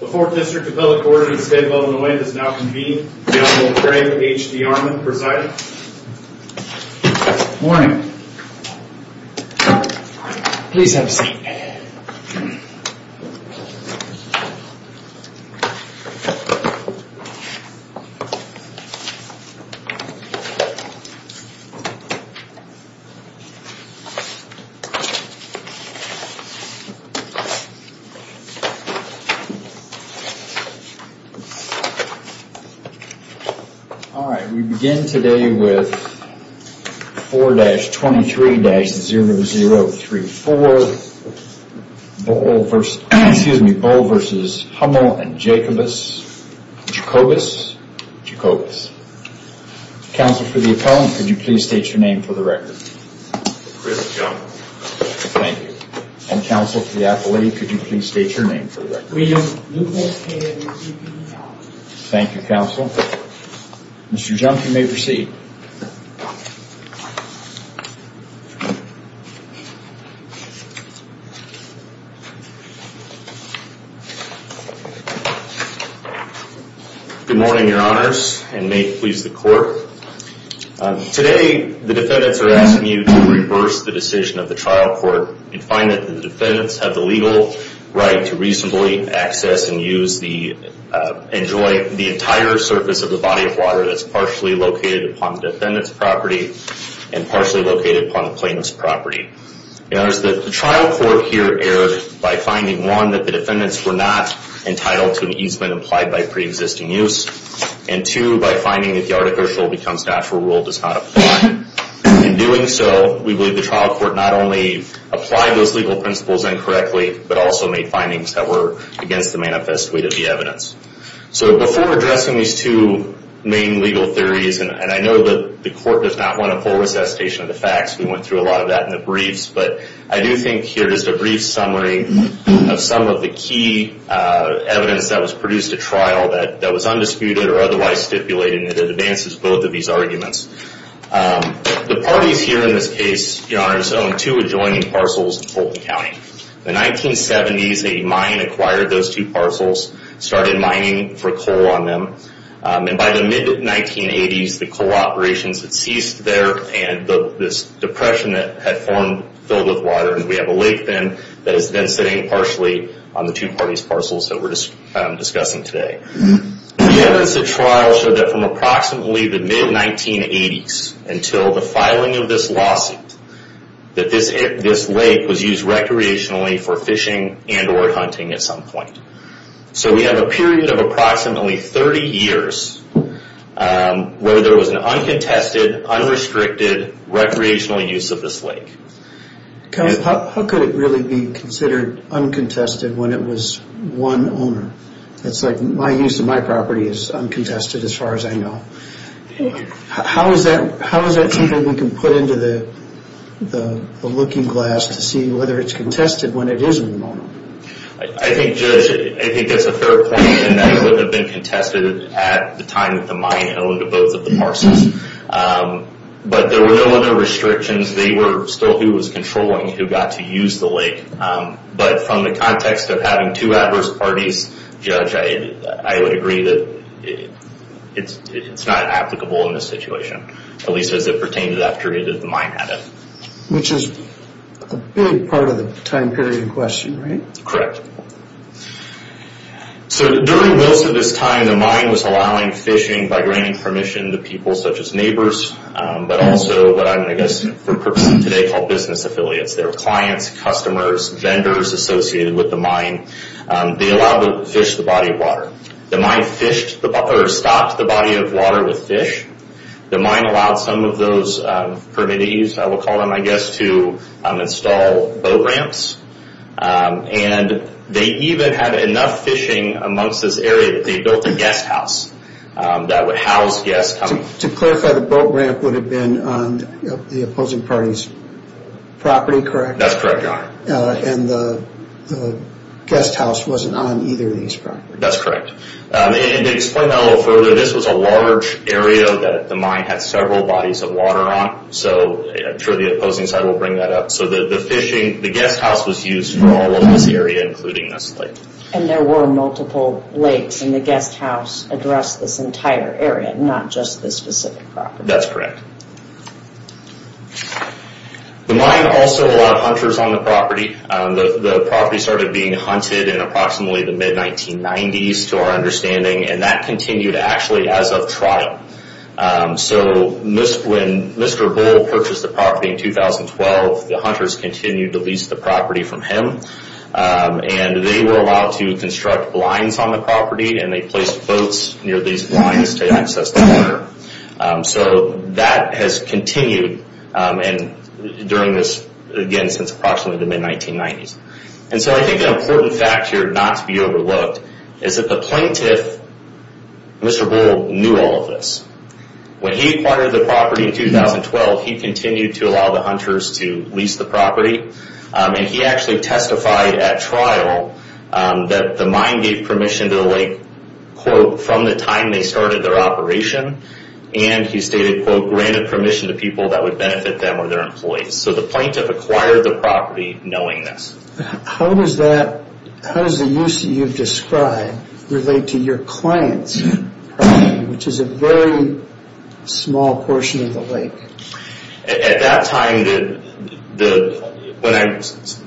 The 4th District of Public Orders of the State of Illinois does now convene. The Honorable Craig H. D. Armuth presiding. Good morning. Please have a seat. We begin today with 4-23-0034. Bull v. Hummel and Jacobus. Jacobus? Jacobus. Counsel for the appellant, could you please state your name for the record? Chris Junk. Counsel for the appellant, could you please state your name for the record? William Lucas. Mr. Junk, you may proceed. Good morning, your honors, and may it please the court. Today, the defendants are asking you to reverse the decision of the trial court and find that the defendants have the legal right to reasonably access and use the entire surface of the body of water that's partially located upon the defendant's property and partially located upon the plaintiff's property. Your honors, the trial court here erred by finding, one, that the defendants were not entitled to an easement implied by pre-existing use, and two, by finding that the article shall become statural rule does not apply. In doing so, we believe the trial court not only applied those legal principles incorrectly, but also made findings that were against the manifest weight of the evidence. So before addressing these two main legal theories, and I know that the court does not want a full recitation of the facts, we went through a lot of that in the briefs, but I do think here is a brief summary of some of the key evidence that was undisputed or otherwise stipulated, and it advances both of these arguments. The parties here in this case, your honors, own two adjoining parcels in Fulton County. In the 1970s, a mine acquired those two parcels, started mining for coal on them, and by the mid-1980s, the coal operations had ceased there, and this depression had formed filled with water, and we have a lake then that is then sitting partially on the two parties' parcels that we're discussing today. The evidence of trial showed that from approximately the mid-1980s until the filing of this lawsuit, that this lake was used recreationally for fishing and or hunting at some point. So we have a period of approximately 30 years where there was an uncontested, unrestricted recreational use of this lake. How could it really be considered uncontested when it was one owner? It's like my use of my property is uncontested as far as I know. How is that something we can put into the looking glass to see whether it's contested when it isn't an owner? I think that's a fair point, and that it would have been contested at the time that the mine owned both of the parcels. But there were no other restrictions. They were still who was controlling who got to use the lake. But from the context of having two adverse parties, Judge, I would agree that it's not applicable in this situation, at least as it pertained to that period that the mine had it. Which is a big part of the time period in question, right? Correct. So during most of this time, the mine was allowing fishing by granting permission to people such as neighbors, but also what I'm going to guess for purposes of today called business affiliates. There were clients, customers, vendors associated with the mine. They allowed to fish the body of water. The mine fished or stocked the body of water with fish. The mine allowed some of those permittees, I will call them I guess, to install boat ramps. And they even had enough fishing amongst this area that they built a guest house. To clarify, the boat ramp would have been on the opposing party's property, correct? That's correct. And the guest house wasn't on either of these properties. That's correct. And to explain that a little further, this was a large area that the mine had several bodies of water on. I'm sure the opposing side will bring that up. So the fishing, the guest house was used for all of this area, including this lake. And there were multiple lakes and the guest house addressed this entire area, not just this specific property. That's correct. The mine also allowed hunters on the property. The property started being hunted in approximately the mid-1990s to our understanding. And that continued actually as of trial. When Mr. Bull purchased the property in 2012, the hunters continued to lease the property from him. And they were allowed to construct blinds on the property. And they placed boats near these blinds to access the water. So that has continued during this, again, since approximately the mid-1990s. And so I think an important fact here not to be overlooked is that the plaintiff, Mr. Bull, knew all of this. When he acquired the property in 2012, he continued to allow the hunters to lease the property. And he actually testified at trial that the mine gave permission to the lake quote, from the time they started their operation. And he stated, quote, granted permission to people that would benefit them or their employees. So the plaintiff acquired the property knowing this. How does the use that you've described relate to your client's property, which is a very small portion of the lake? At that time,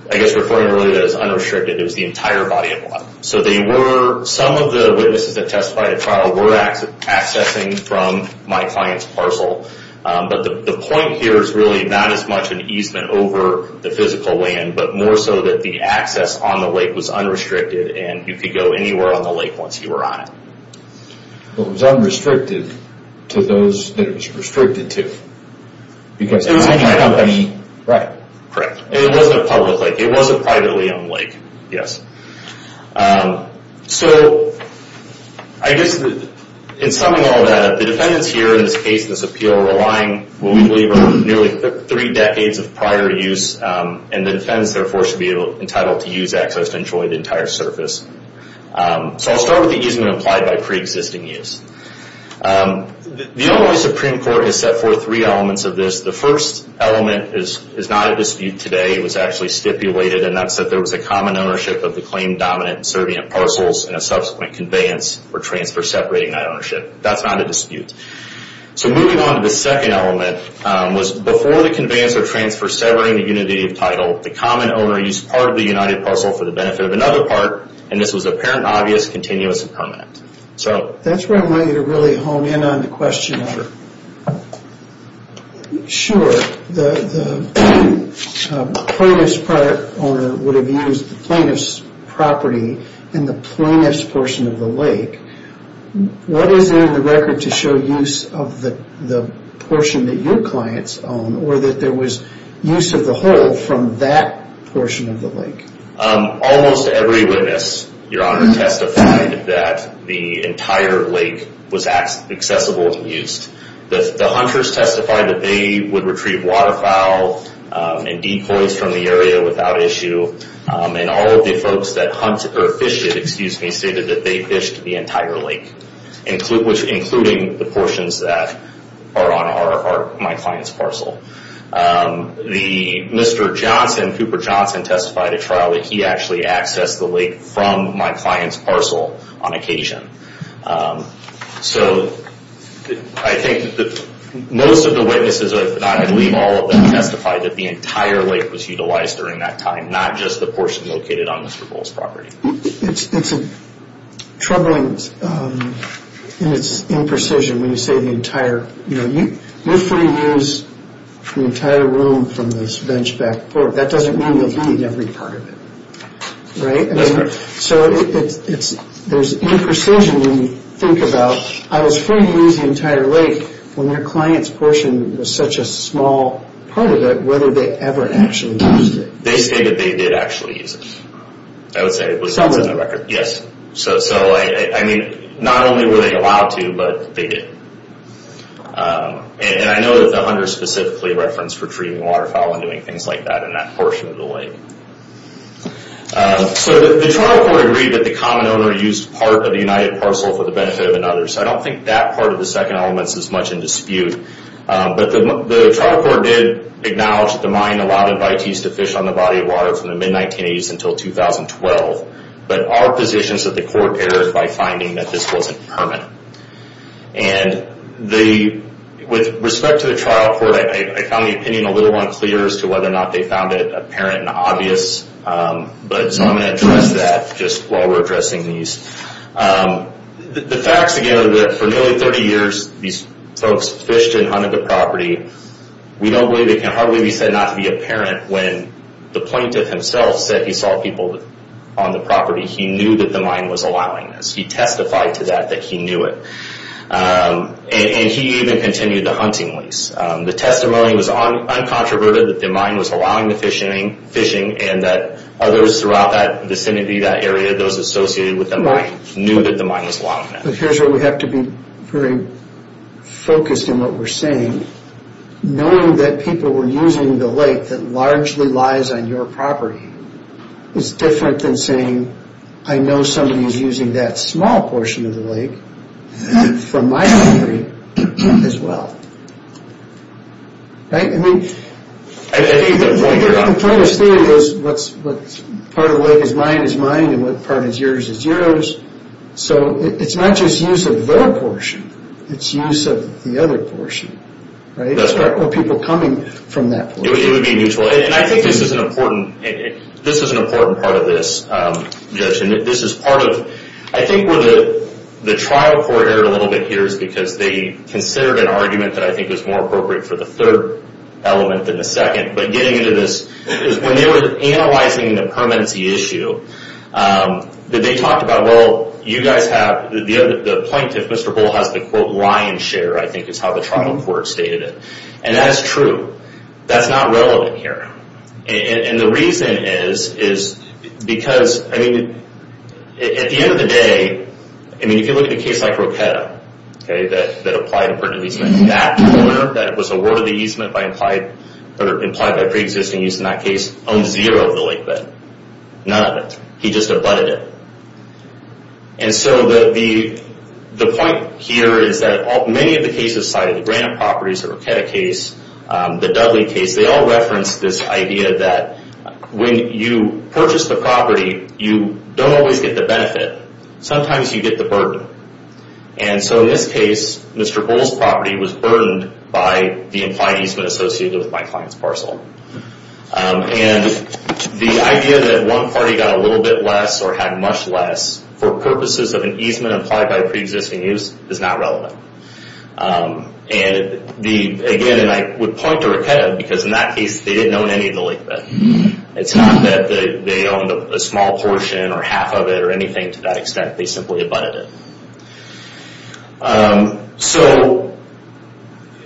I guess referring to it as unrestricted, it was the entire body of water. So they were, some of the witnesses that testified at trial were accessing from my client's parcel. But the point here is really not as much an easement over the physical land, but more so that the access on the lake was unrestricted. And you could go anywhere on the lake once you were on it. It was unrestricted to those that it was restricted to. Right. Correct. It wasn't a public lake. It was a privately owned lake. Yes. So, I guess in summing all that up, the defendants here in this case, in this appeal, are relying on what we believe are nearly three decades of prior use and the defendants therefore should be entitled to use access to enjoy the entire surface. So I'll start with the easement applied by pre-existing use. The Illinois Supreme Court has set forth three elements of this. The first element is not a dispute today. It was actually stipulated and that's that there was a common ownership of the claim dominant and servient parcels and a subsequent conveyance or transfer separating that ownership. That's not a dispute. So moving on to the second element, was before the conveyance or transfer severing the unity of title, the common owner used part of the united parcel for the benefit of another part and this was apparent and obvious continuous and permanent. That's where I want you to really hone in on the question. Sure. The plaintiff's owner would have used the plaintiff's property in the plaintiff's portion of the lake. What is in the record to show use of the portion that your clients own or that there was use of the whole from that portion of the lake? Almost every witness, Your Honor, testified that the entire lake was accessible to use. The plaintiff's owner would retrieve waterfowl and decoys from the area without issue and all of the folks that fished it stated that they fished the entire lake, including the portions that are on my client's parcel. Mr. Johnson, Cooper Johnson, testified at trial that he actually accessed the lake from my client's parcel on occasion. So I think most of the witnesses, if not all of them, testified that the entire lake was utilized during that time, not just the portion located on Mr. Bull's property. It's troubling and it's imprecision when you say the entire. You're free to use the entire room from this bench back porch. That doesn't mean you'll need every part of it. There's imprecision when you think about I was free to use the entire lake when their client's portion was such a small part of it, whether they ever actually used it. They say that they did actually use it. Not only were they allowed to, but they did. I know that the Hunter specifically referenced retrieving waterfowl and doing things like that in that portion of the lake. The trial court agreed that the common owner used part of the United parcel for the benefit of another. I don't think that part of the second element is much in dispute. The trial court did acknowledge that the mine allowed invitees to fish on the body of water from the mid-1980s until 2012. But our position is that the court erred by finding that this wasn't permanent. With respect to the trial court, I found the opinion a little unclear as to whether or not they found it apparent and obvious. So I'm going to address that just while we're addressing these. The facts, again, are that for nearly 30 years these folks fished and hunted the property. We don't believe it can hardly be said not to be apparent when the plaintiff himself said he saw people on the property. He knew that the mine was allowing this. He testified to that that he knew it. He even continued the hunting lease. The testimony was uncontroverted that the mine was allowing the fishing and that others throughout that vicinity, that area, those associated with the mine knew that the mine was allowing that. But here's where we have to be very focused in what we're saying. Knowing that people were using the lake that largely lies on your property is different than saying I know somebody is using that small portion of the lake from my property as well. Right? I think the point of this theory is what part of the lake is mine is mine and what part is yours is yours. So it's not just use of their portion. It's use of the other portion. Right? That's where people are coming from that portion. It would be mutual. And I think this is an important part of this judgment. This is part of, I think where the trial court erred a little bit here is because they considered an argument that I element in a second. But getting into this, when they were analyzing the permanency issue, they talked about well you guys have, the plaintiff Mr. Bull has the quote lion's share I think is how the trial court stated it. And that's true. That's not relevant here. And the reason is because, I mean, at the end of the day, I mean if you look at a case like Rocketta that applied for a leasement that owner that was awarded the easement by implied by pre-existing use in that case owns zero of the lake bed. None of it. He just abutted it. And so the point here is that many of the cases cited, the Grant properties, the Rocketta case, the Dudley case, they all reference this idea that when you purchase the property, you don't always get the benefit. Sometimes you get the burden. And so in this case, Mr. Bull's property was burdened by the implied easement associated with my client's parcel. And the idea that one party got a little bit less or had much less for purposes of an easement applied by pre-existing use is not relevant. And again, I would point to Rocketta because in that case they didn't own any of the lake bed. It's not that they owned a small portion or half of it or anything to that extent. They simply abutted it. So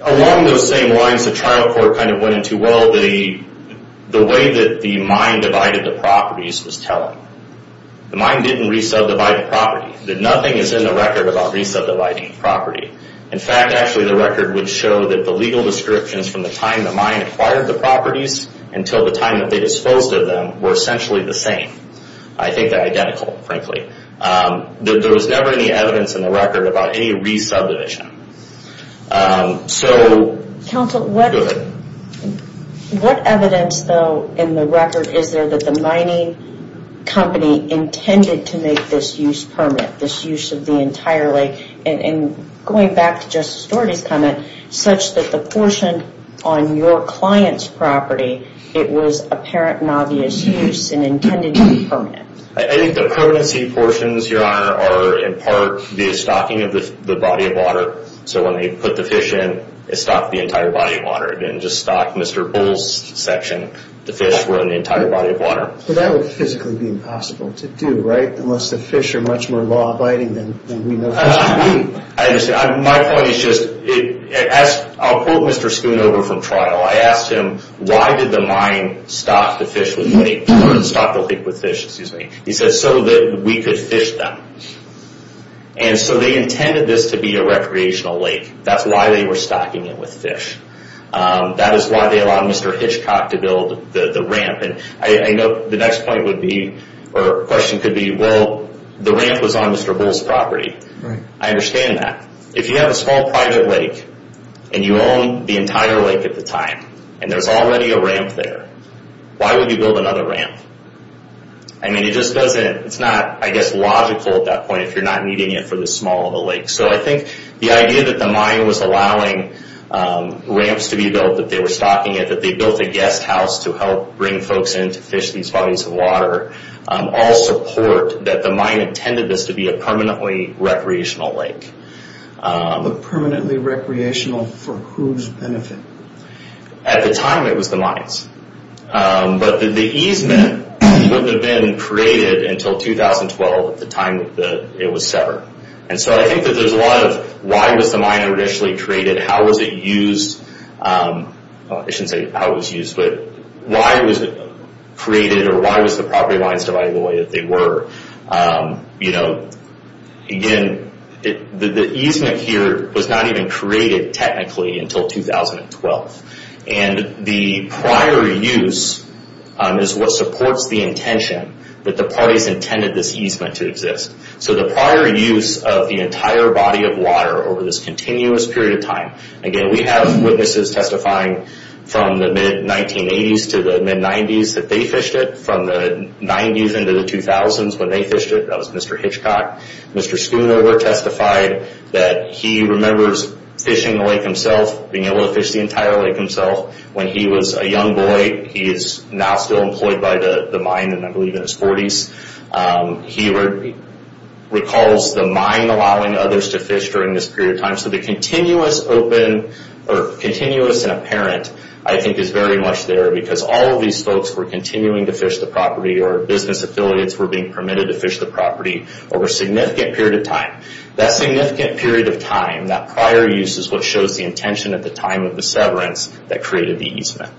along those same lines, the trial court kind of went into, well, the way that the mine divided the properties was telling. The mine didn't re-subdivide the property. Nothing is in the record about re-subdividing property. In fact, actually the record would show that the legal descriptions from the time the mine acquired the properties until the time that they disposed of them were essentially the same. I think they're identical frankly. There was never any evidence in the record about any re-subdivision. So... What evidence though in the record is there that the mining company intended to make this use permanent? This use of the entire lake? And going back to Justice Dougherty's comment, such that the portion on your client's property, it was apparent and obvious use and intended to be permanent. I think the permanency portions, Your Honor, are in part the stocking of the body of water. So when they put the fish in it stocked the entire body of water. It didn't just stock Mr. Bull's section. The fish were in the entire body of water. But that would physically be impossible to do, right? Unless the fish are much more law abiding than we know fish to be. I understand. My point is just, I'll quote Mr. Spoon over from trial. I asked him, why did the mine stock the lake with fish? He said, so that we could fish them. And so they intended this to be a recreational lake. That's why they were stocking it with fish. That is why they allowed Mr. Hitchcock to build the ramp. The next question could be, well, the ramp was on Mr. Bull's property. I understand that. If you have a small private lake, and you own the entire lake at the time, and there's already a ramp there, why would you build another ramp? I mean, it just doesn't, it's not, I guess, logical at that point if you're not needing it for the small of the lake. So I think the idea that the mine was allowing ramps to be built, that they were stocking it, that they built a guest house to help bring folks in to fish these bodies of water, all support that the mine intended this to be a permanently recreational lake. But permanently recreational for whose benefit? At the time, it was the mines. But the easement wouldn't have been created until 2012 at the time it was severed. And so I think that there's a lot of why was the mine originally created? How was it used? I shouldn't say how it was used, but why was it created or why was the property lines divided the way that they were? Again, the easement here was not even created technically until 2012. The prior use is what supports the intention that the parties intended this easement to exist. So the prior use of the entire body of water over this continuous period of time, again, we have witnesses testifying from the mid-1980s to the mid-90s that they fished it. From the 90s into the 2000s when they fished it, that was Mr. Hitchcock. Mr. Schoonover testified that he remembers fishing the lake himself, being able to fish the entire lake himself. When he was a young boy, he is now still employed by the mine, I believe in his 40s. He recalls the mine allowing others to fish during this period of time. So the continuous and apparent I think is very much there because all of these folks were continuing to fish the property or business affiliates were being permitted to fish the property over a significant period of time. That significant period of time, that prior use is what shows the intention at the time of the severance that created the easement.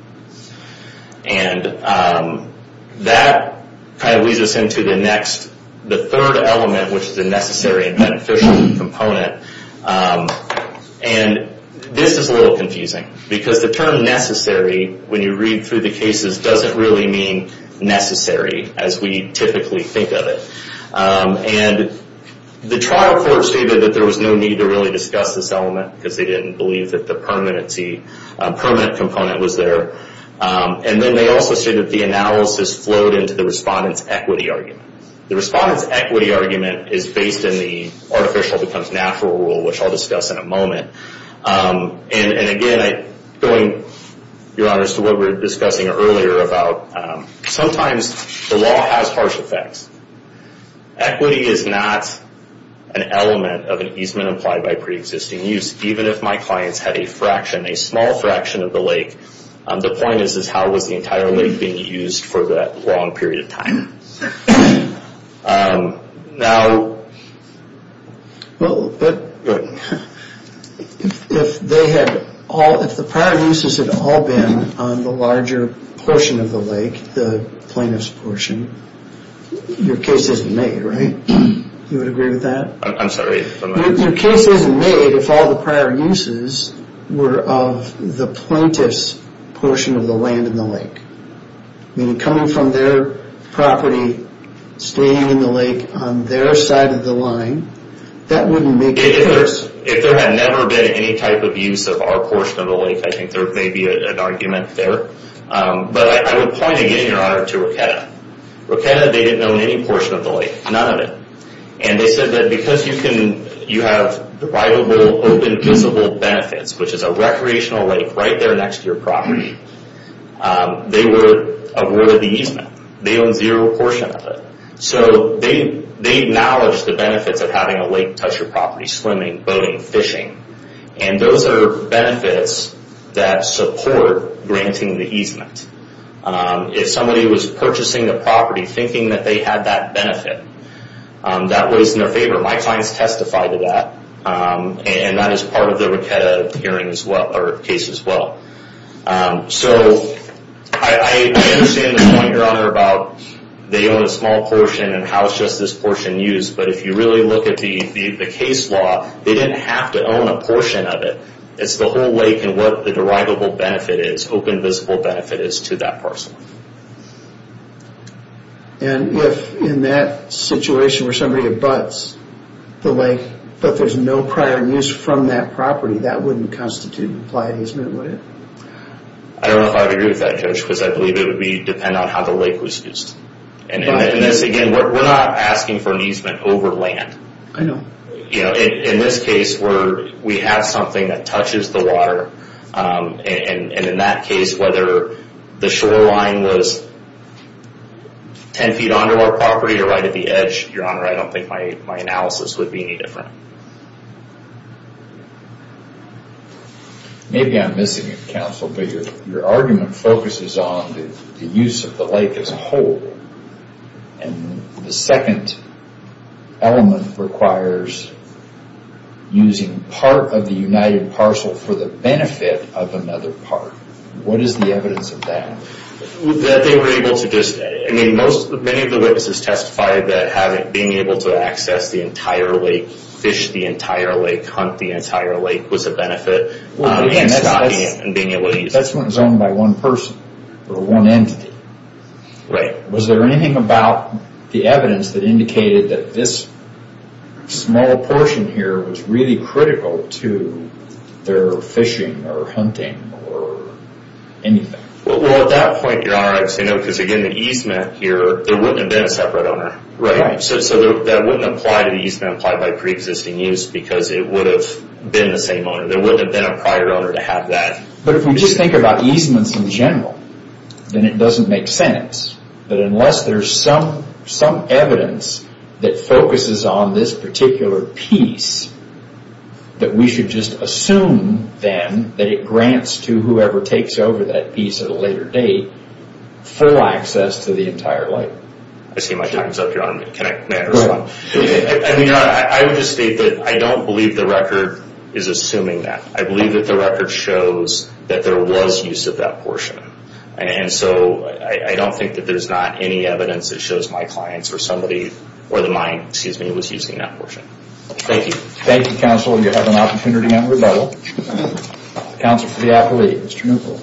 That leads us into the third element, which is the necessary and beneficial component. This is a little confusing because the term necessary, when you read through the cases, doesn't really mean necessary as we typically think of it. The trial court stated that there was no need to really discuss this element because they didn't believe that the permanent component was there. Then they also stated the analysis flowed into the respondent's equity argument. The respondent's equity argument is based in the artificial becomes natural rule, which I'll discuss in a moment. Going to what we were discussing earlier about sometimes the law has harsh effects. Equity is not an element of an easement applied by pre-existing use, even if my clients had a fraction, a small fraction of the lake. The point is how was the entire lake being used for that long period of time. If the prior uses had all been on the larger portion of the lake, the plaintiff's portion, your case isn't made, right? You would agree with that? Your case isn't made if all the prior uses were of the plaintiff's portion of the land in the lake. Coming from their property staying in the lake on their side of the line, that wouldn't make any difference. If there had never been any type of use of our portion of the lake, I think there may be an argument there. I would point again, Your Honor, to Roketa. Roketa, they didn't own any portion of the lake. None of it. They said that because you have rivalable, open, visible benefits, which is a recreational lake right there next to your property, they were awarded the easement. They own zero portion of it. They acknowledge the benefits of having a lake touch your property, swimming, boating, fishing. Those are benefits that support granting the easement. If somebody was purchasing a property thinking that they had that benefit, that was in their favor. My clients testified to that. That is part of the Roketa case as well. I understand the point, Your Honor, about they own a small portion and how it's just this portion used, but if you really look at the case law, they didn't have to own a portion of it. It's the whole lake and what the rivalable benefit is, open, visible benefit is to that person. If in that situation where somebody abuts the lake, but there's no prior use from that property, that wouldn't constitute applied easement, would it? I don't know if I would agree with that, Judge, because I believe it would depend on how the lake was used. Again, we're not asking for an easement over land. In this case, we have something that touches the water. In that case, whether the shoreline was 10 feet under our property or right at the edge, Your Honor, I don't think my analysis would be any different. Maybe I'm missing it, Counsel, but your argument focuses on the use of the lake as a whole. The second element requires using part of the united parcel for the benefit of another part. What is the evidence of that? Many of the witnesses testified that being able to access the entire lake, fish the entire lake, hunt the entire lake was a benefit. That's when it's owned by one person or one entity. Was there anything about the evidence that indicated that this small portion here was really critical to their fishing or hunting or anything? Well, at that point, Your Honor, because again, the easement here, there wouldn't have been a separate owner. That wouldn't apply to the easement applied by pre-existing use because it would have been the same owner. There wouldn't have been a prior owner to have that. But if we just think about and it doesn't make sense, but unless there's some evidence that focuses on this particular piece that we should just assume then that it grants to whoever takes over that piece at a later date full access to the entire lake. I see my time's up, Your Honor. I would just state that I don't believe the record is assuming that. I believe that the record shows that there was use of that portion. I don't think that there's not any evidence that shows my clients or somebody or the mine was using that portion. Thank you. Thank you, counsel. You have an opportunity now to rebuttal. Counsel for the appellee, Mr. Newport.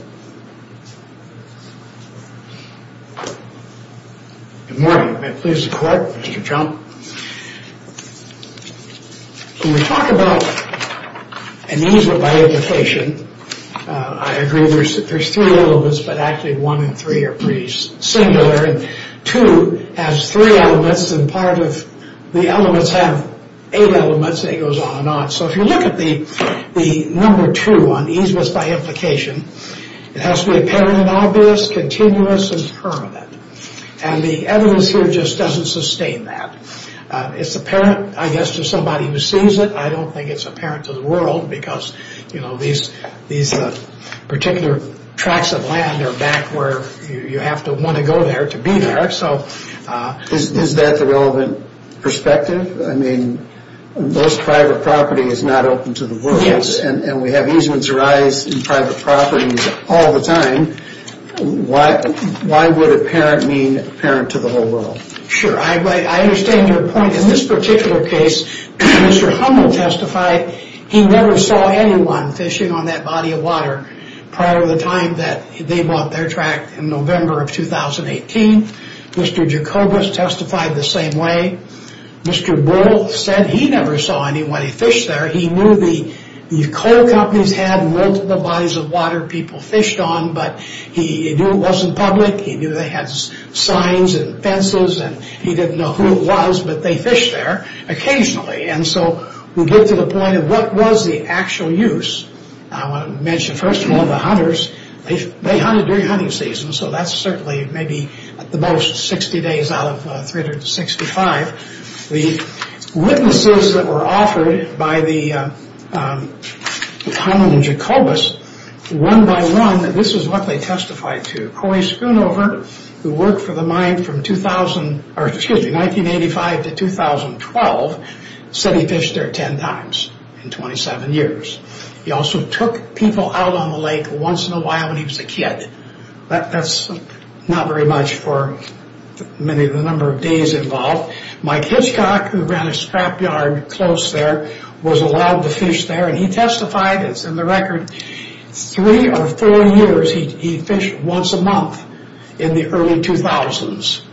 Good morning. May it please the Court, Mr. Chump. When we talk about an easement by implication, I agree there's three elements, but actually one and three are pretty singular. Two has three elements and part of the elements have eight elements and it goes on and on. So if you look at the number two on easements by implication, it has to be apparent and obvious, continuous and permanent. And the evidence here just doesn't sustain that. It's apparent, I guess, to somebody who sees it. I don't think it's obvious. These particular tracts of land are back where you have to want to go there to be there. Is that the relevant perspective? I mean, most private property is not open to the world. Yes. And we have easements arise in private properties all the time. Why would apparent mean apparent to the whole world? Sure. I understand your point. In this particular case, Mr. Hummel testified that he never saw anyone fishing on that body of water prior to the time that they bought their tract in November of 2018. Mr. Jacobus testified the same way. Mr. Bull said he never saw anybody fish there. He knew the coal companies had multiple bodies of water people fished on but he knew it wasn't public. He knew they had signs and fences and he didn't know who it was, but they fished there occasionally. We get to the point of what was the actual use. I want to mention, first of all, the hunters. They hunted during hunting season so that's certainly, maybe, at the most, 60 days out of 365. The witnesses that were offered by the Hummel and Jacobus one by one, this is what they testified to, Coey Schoonover who worked for the mine from 1985 to 2012 said he fished there 10 times in 27 years. He also took people out on the lake once in a while when he was a kid. That's not very much for the number of days involved. Mike Hitchcock who ran a scrap yard close there was allowed to fish there and he testified, it's in the record, three or four years he fished once a month in the early 2000s.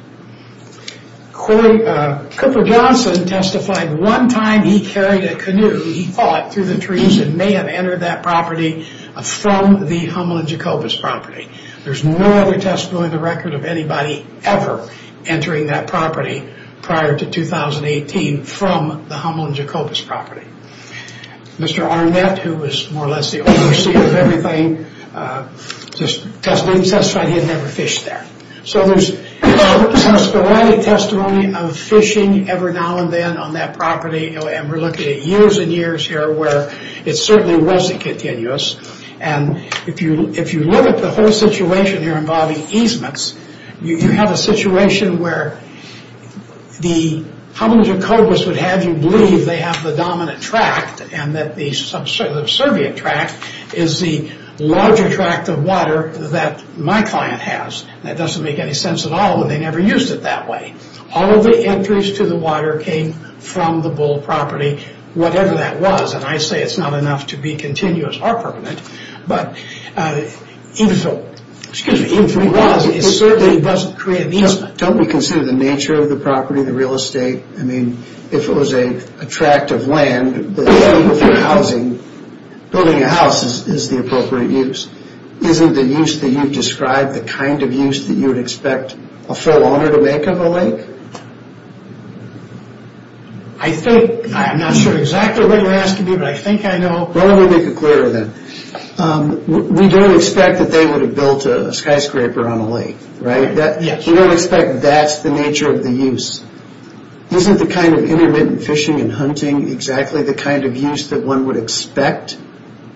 Cooper Johnson testified one time he carried a canoe, he fought through the trees and may have entered that property from the Hummel and Jacobus property. There's no other testimony in the record of anybody ever entering that property prior to 2018 from the Hummel and Jacobus property. Mr. Arnett who was more or less the overseer of everything testified he had never fished there. There's no sporadic testimony of fishing ever now and then on that property. We're looking at years and years here where it certainly wasn't continuous. If you look at the whole situation here involving easements, you have a situation where the Hummel and Jacobus would have you believe they have the dominant tract and that the subservient tract is the larger tract of water that my client has. That doesn't make any sense at all when they never used it that way. All of the entries to the water came from the Bull property, whatever that was. I say it's not enough to be continuous or permanent, but even if it was it certainly doesn't create an easement. Don't we consider the nature of the property, the real estate? If it was a tract of land that was built for housing, building a house is the appropriate use. Isn't the use that you've described the kind of use that you would expect a full owner to make of a lake? I think, I'm not sure exactly what you're asking me but I think I know. Well let me make it clearer then. We don't expect that they would have built a skyscraper on a lake, right? We don't expect that's the nature of the use. Isn't the kind of intermittent fishing and hunting exactly the kind of use that one would expect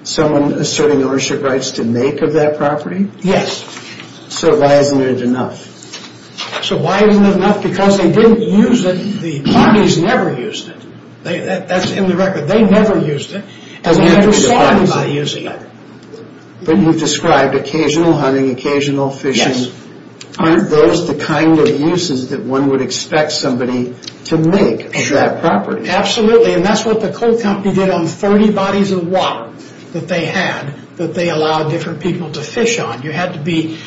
someone asserting ownership rights to make of that property? Yes. So why isn't it enough? So why isn't it enough? Because they didn't use it, the bodies never used it. That's in the record. They never used it. But you've described occasional hunting, occasional fishing. Yes. Aren't those the kind of uses that one would expect somebody to make of that property? Absolutely and that's what the law that they had that they allowed different people to fish on. You had to be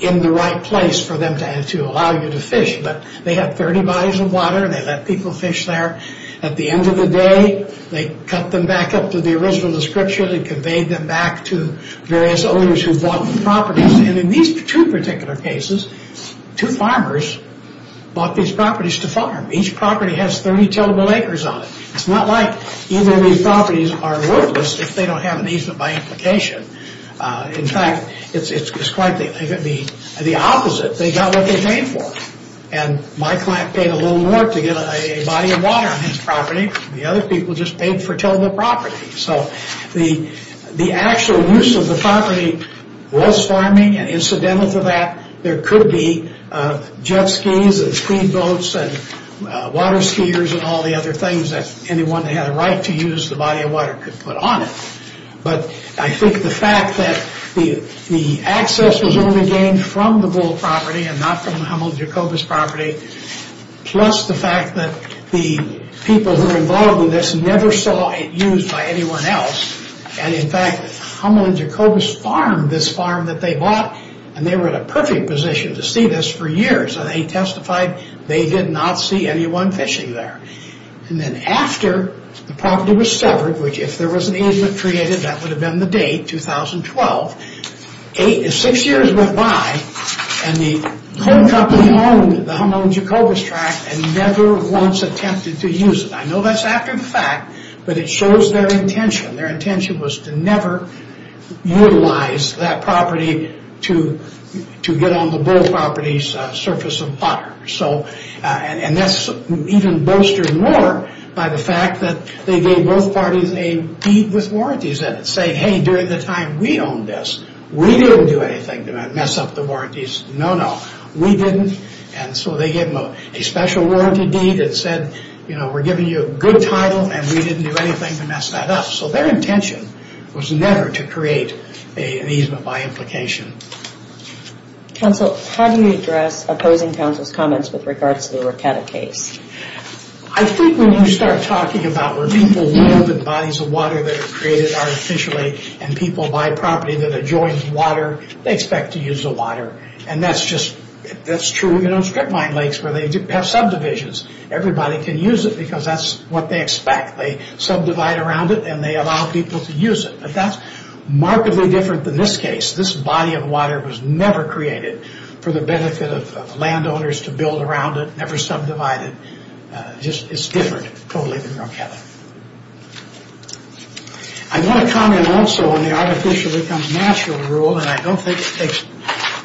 in the right place for them to allow you to fish but they had 30 bodies of water and they let people fish there. At the end of the day, they cut them back up to the original description and conveyed them back to various owners who bought the properties. And in these two particular cases, two farmers bought these properties to farm. Each property has 30 tillable acres on it. It's not like either of these properties are worthless if they don't have an easement by implication. In fact, it's quite the opposite. They got what they paid for. And my client paid a little more to get a body of water on his property. The other people just paid for tillable property. So the actual use of the property was farming and incidental to that, there could be jet skis and speed boats and water skiers and all the right to use the body of water could put on it. But I think the fact that the access was only gained from the Bull property and not from the Hummel and Jacobus property, plus the fact that the people who were involved in this never saw it used by anyone else. And in fact, Hummel and Jacobus farmed this farm that they bought and they were in a perfect position to see this for years. They testified they did not see anyone fishing there. And then after the property was severed, which if there was an easement created, that would have been the date, 2012, six years went by and the home company owned the Hummel and Jacobus tract and never once attempted to use it. I know that's after the fact, but it shows their intention. Their intention was to never utilize that property to get on the Bull property's surface of water. And that's even bolstered more by the fact that they gave both parties a deed with warranties that said, hey, during the time we owned this, we didn't do anything to mess up the warranties. No, no. We didn't. And so they gave them a special warranty deed that said, we're giving you a good title and we didn't do anything to mess that up. So their intention was never to create an easement by implication. Counsel, how do you address opposing counsel's comments with regards to the Rocatta case? I think when you start talking about where people live in bodies of water that are created artificially and people buy property that adjoins water, they expect to use the water. And that's true even on strip mine lakes where they have subdivisions. Everybody can use it because that's what they expect. They subdivide around it and they allow people to use it. But that's markedly different. In this case, this body of water was never created for the benefit of landowners to build around it, never subdivided. It's different totally than Rocatta. I want to comment also on the artificial becomes natural rule and I don't think it takes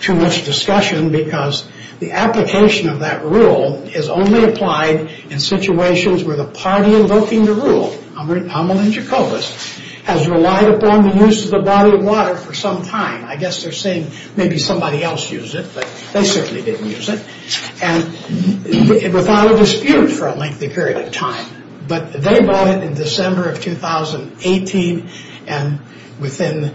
too much discussion because the application of that rule is only applied in situations where the party invoking the rule, Hummel and Jacobus, has relied upon the use of the body of water for some time. I guess they're saying maybe somebody else used it, but they certainly didn't use it. Without a dispute for a lengthy period of time. But they bought it in December of 2018 and within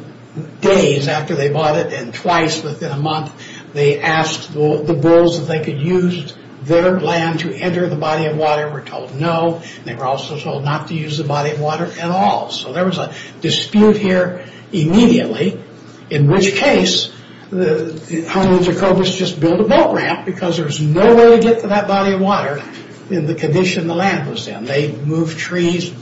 days after they bought it and twice within a month, they asked the bulls if they could use their land to enter the body of water and were told no. They were also told not to use the body of water at all. There was a dispute here immediately in which case, Hummel and Jacobus just built a boat ramp because there was no way to get to that body of water in the condition the land was in. They moved trees,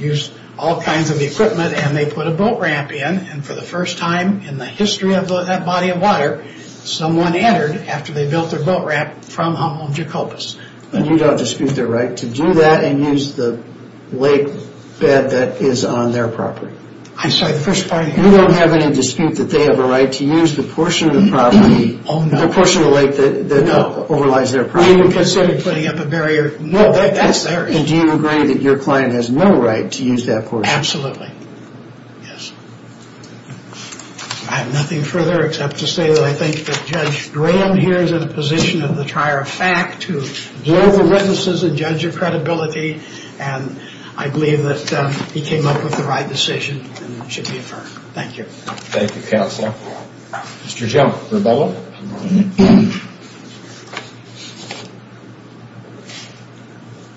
used all kinds of equipment and they put a boat ramp in. For the first time in the history of that body of water, someone entered after they built their boat ramp from Hummel and Jacobus. You don't dispute their right to do that and use the lake bed that is on their property? You don't have any dispute that they have a right to use the portion of the property, the portion of the lake that overlies their property? Do you agree that your client has no right to use that portion? Absolutely. I have nothing further except to say that I think that Judge Graham here is in a position in the trier of fact to blow the witnesses and judge your credibility and I believe that he came up with the right decision and it should be affirmed. Thank you. Thank you, Counselor. Mr. Jim Rubello.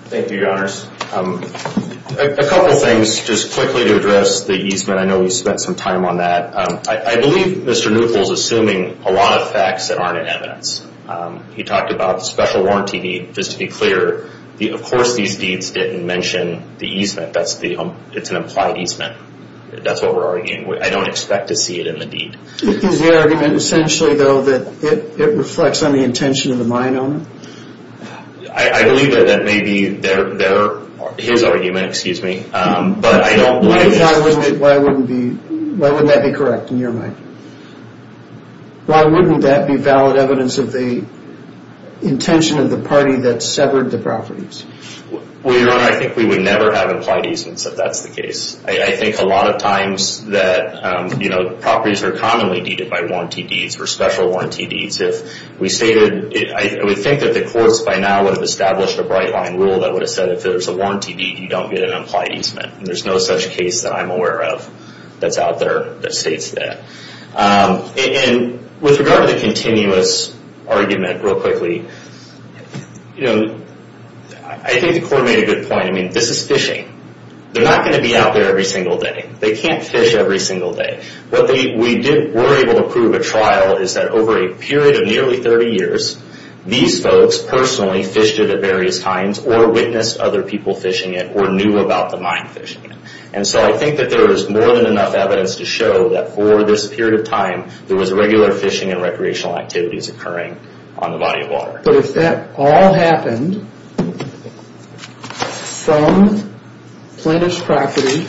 Thank you, Your Honors. A couple of things just quickly to address the easement. I know we spent some time on that. I believe Mr. Neukel is assuming a lot of facts that aren't in evidence. He talked about the special warranty deed. Just to be clear, of course these deeds didn't mention the easement. It's an implied easement. That's what we're arguing. I don't expect to see it in the deed. Is the argument essentially though that it reflects on the intention of the mine owner? I believe that that may be his argument. Why wouldn't that be correct in your mind? Why wouldn't that be valid evidence of the intention of the party that severed the properties? Well, Your Honor, I think we would never have implied easements if that's the case. I think a lot of times that properties are commonly deeded by warranty deeds or special warranty deeds. I would think that the courts by now would have established a bright line rule that would have said if there's a warranty deed, you don't get an implied easement. There's no such case that I'm aware of that's out there that states that. With regard to the continuous argument, real quickly, I think the court made a good point. This is fishing. They're not going to be out there every single day. They can't fish every single day. What we were able to prove at trial is that over a period of nearly 30 years, these folks personally fished it at various times or witnessed other people fishing it or knew about the mine fishing it. I think that there is more than enough evidence to show that for this period of time, there was regular fishing and recreational activities occurring on the body of water. But if that all happened from plaintiff's property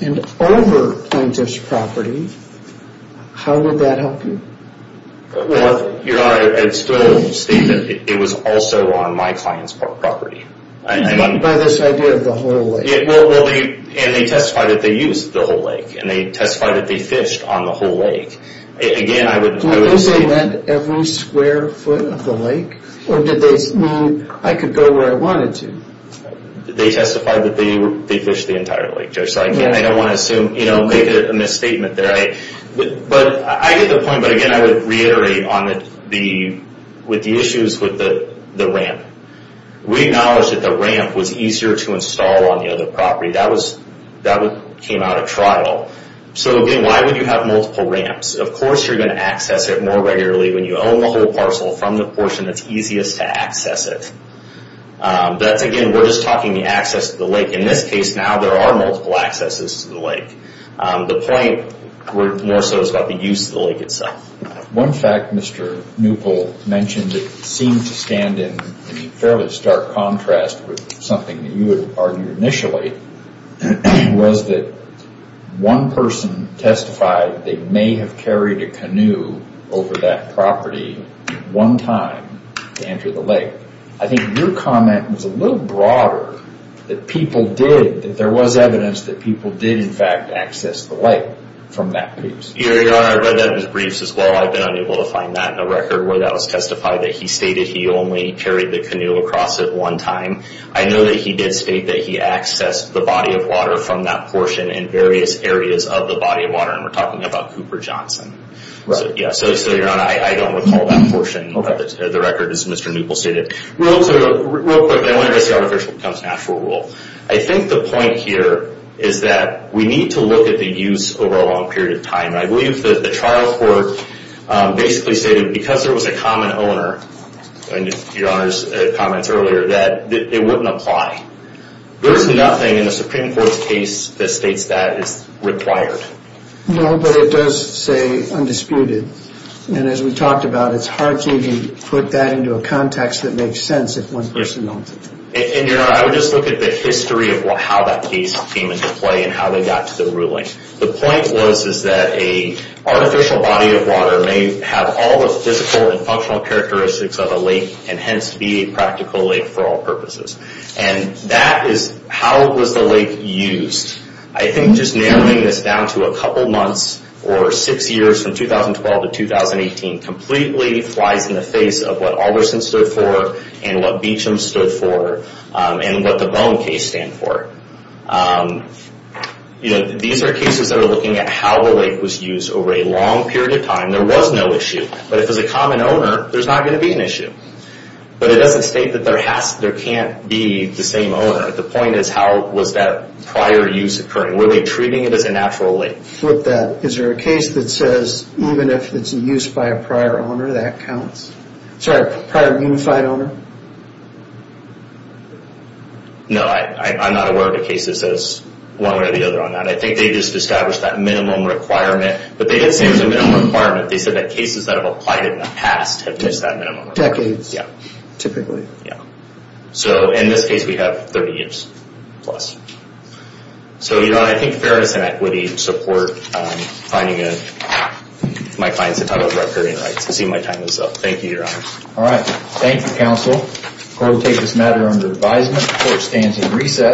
and over plaintiff's property, how would that help you? Your Honor, I would still state that it was also on my client's property. By this idea of the whole lake? They testified that they used the whole lake. They testified that they fished on the whole lake. Do you mean they went every square foot of the lake? I could go where I wanted to. They testified that they fished the entire lake. I don't want to make a misstatement there. I get the point, but again, I would reiterate with the issues with the ramp. We acknowledge that the ramp was easier to install on the other property. That came out of trial. Why would you have multiple ramps? Of course, you're going to access it more regularly when you own the whole parcel from the portion that's easiest to access it. Again, we're just talking the access to the lake. In this case now, there are multiple accesses to the lake. The point more so is about the use of the lake itself. One fact Mr. Neupel mentioned that seemed to stand in fairly stark contrast with something that you had argued initially was that one person testified they may have carried a canoe over that property one time to enter the lake. I think your comment was a little broader that people did, that there was evidence that people did in fact access the lake from that piece. Your Honor, I read that in his briefs as well. I've been unable to testify that he stated he only carried the canoe across it one time. I know that he did state that he accessed the body of water from that portion in various areas of the body of water. We're talking about Cooper Johnson. Your Honor, I don't recall that portion of the record as Mr. Neupel stated. Real quick, I want to address the artificial becomes natural rule. I think the point here is that we need to look at the use over a long period of time. I believe that the trial court basically stated because there was a common owner, Your Honor's comments earlier, that it wouldn't apply. There's nothing in the Supreme Court's case that states that is required. No, but it does say undisputed. As we talked about, it's hard to put that into a context that makes sense if one person knows it. Your Honor, I would just look at the history of how that case came into play and how they got to the ruling. The point was that an artificial body of water may have all the physical and functional characteristics of a lake and hence be a practical lake for all purposes. That is how was the lake used? I think just narrowing this down to a couple months or six years from 2012 to 2018 completely flies in the face of what Alderson stood for and what Beecham stood for and what the Bone case stand for. These are cases that are looking at how the lake was used over a long period of time. There was no issue. But if it was a common owner, there's not going to be an issue. But it doesn't state that there can't be the same owner. The point is how was that prior use occurring? Were they treating it as a natural lake? Flip that. Is there a case that says even if it's used by a prior owner, that counts? Sorry, prior unified owner? No, I'm not aware of a case that says one way or the other on that. I think they just established that minimum requirement. But they didn't say it was a minimum requirement. They said that cases that have applied in the past have missed that minimum requirement. Decades, typically. In this case, we have 30 years plus. I think fairness and equity support finding my clients a title of recurring rights. I see my time is up. Thank you, Your Honor. Thank you, counsel. The court will take this matter under advisement. The court stands in recess.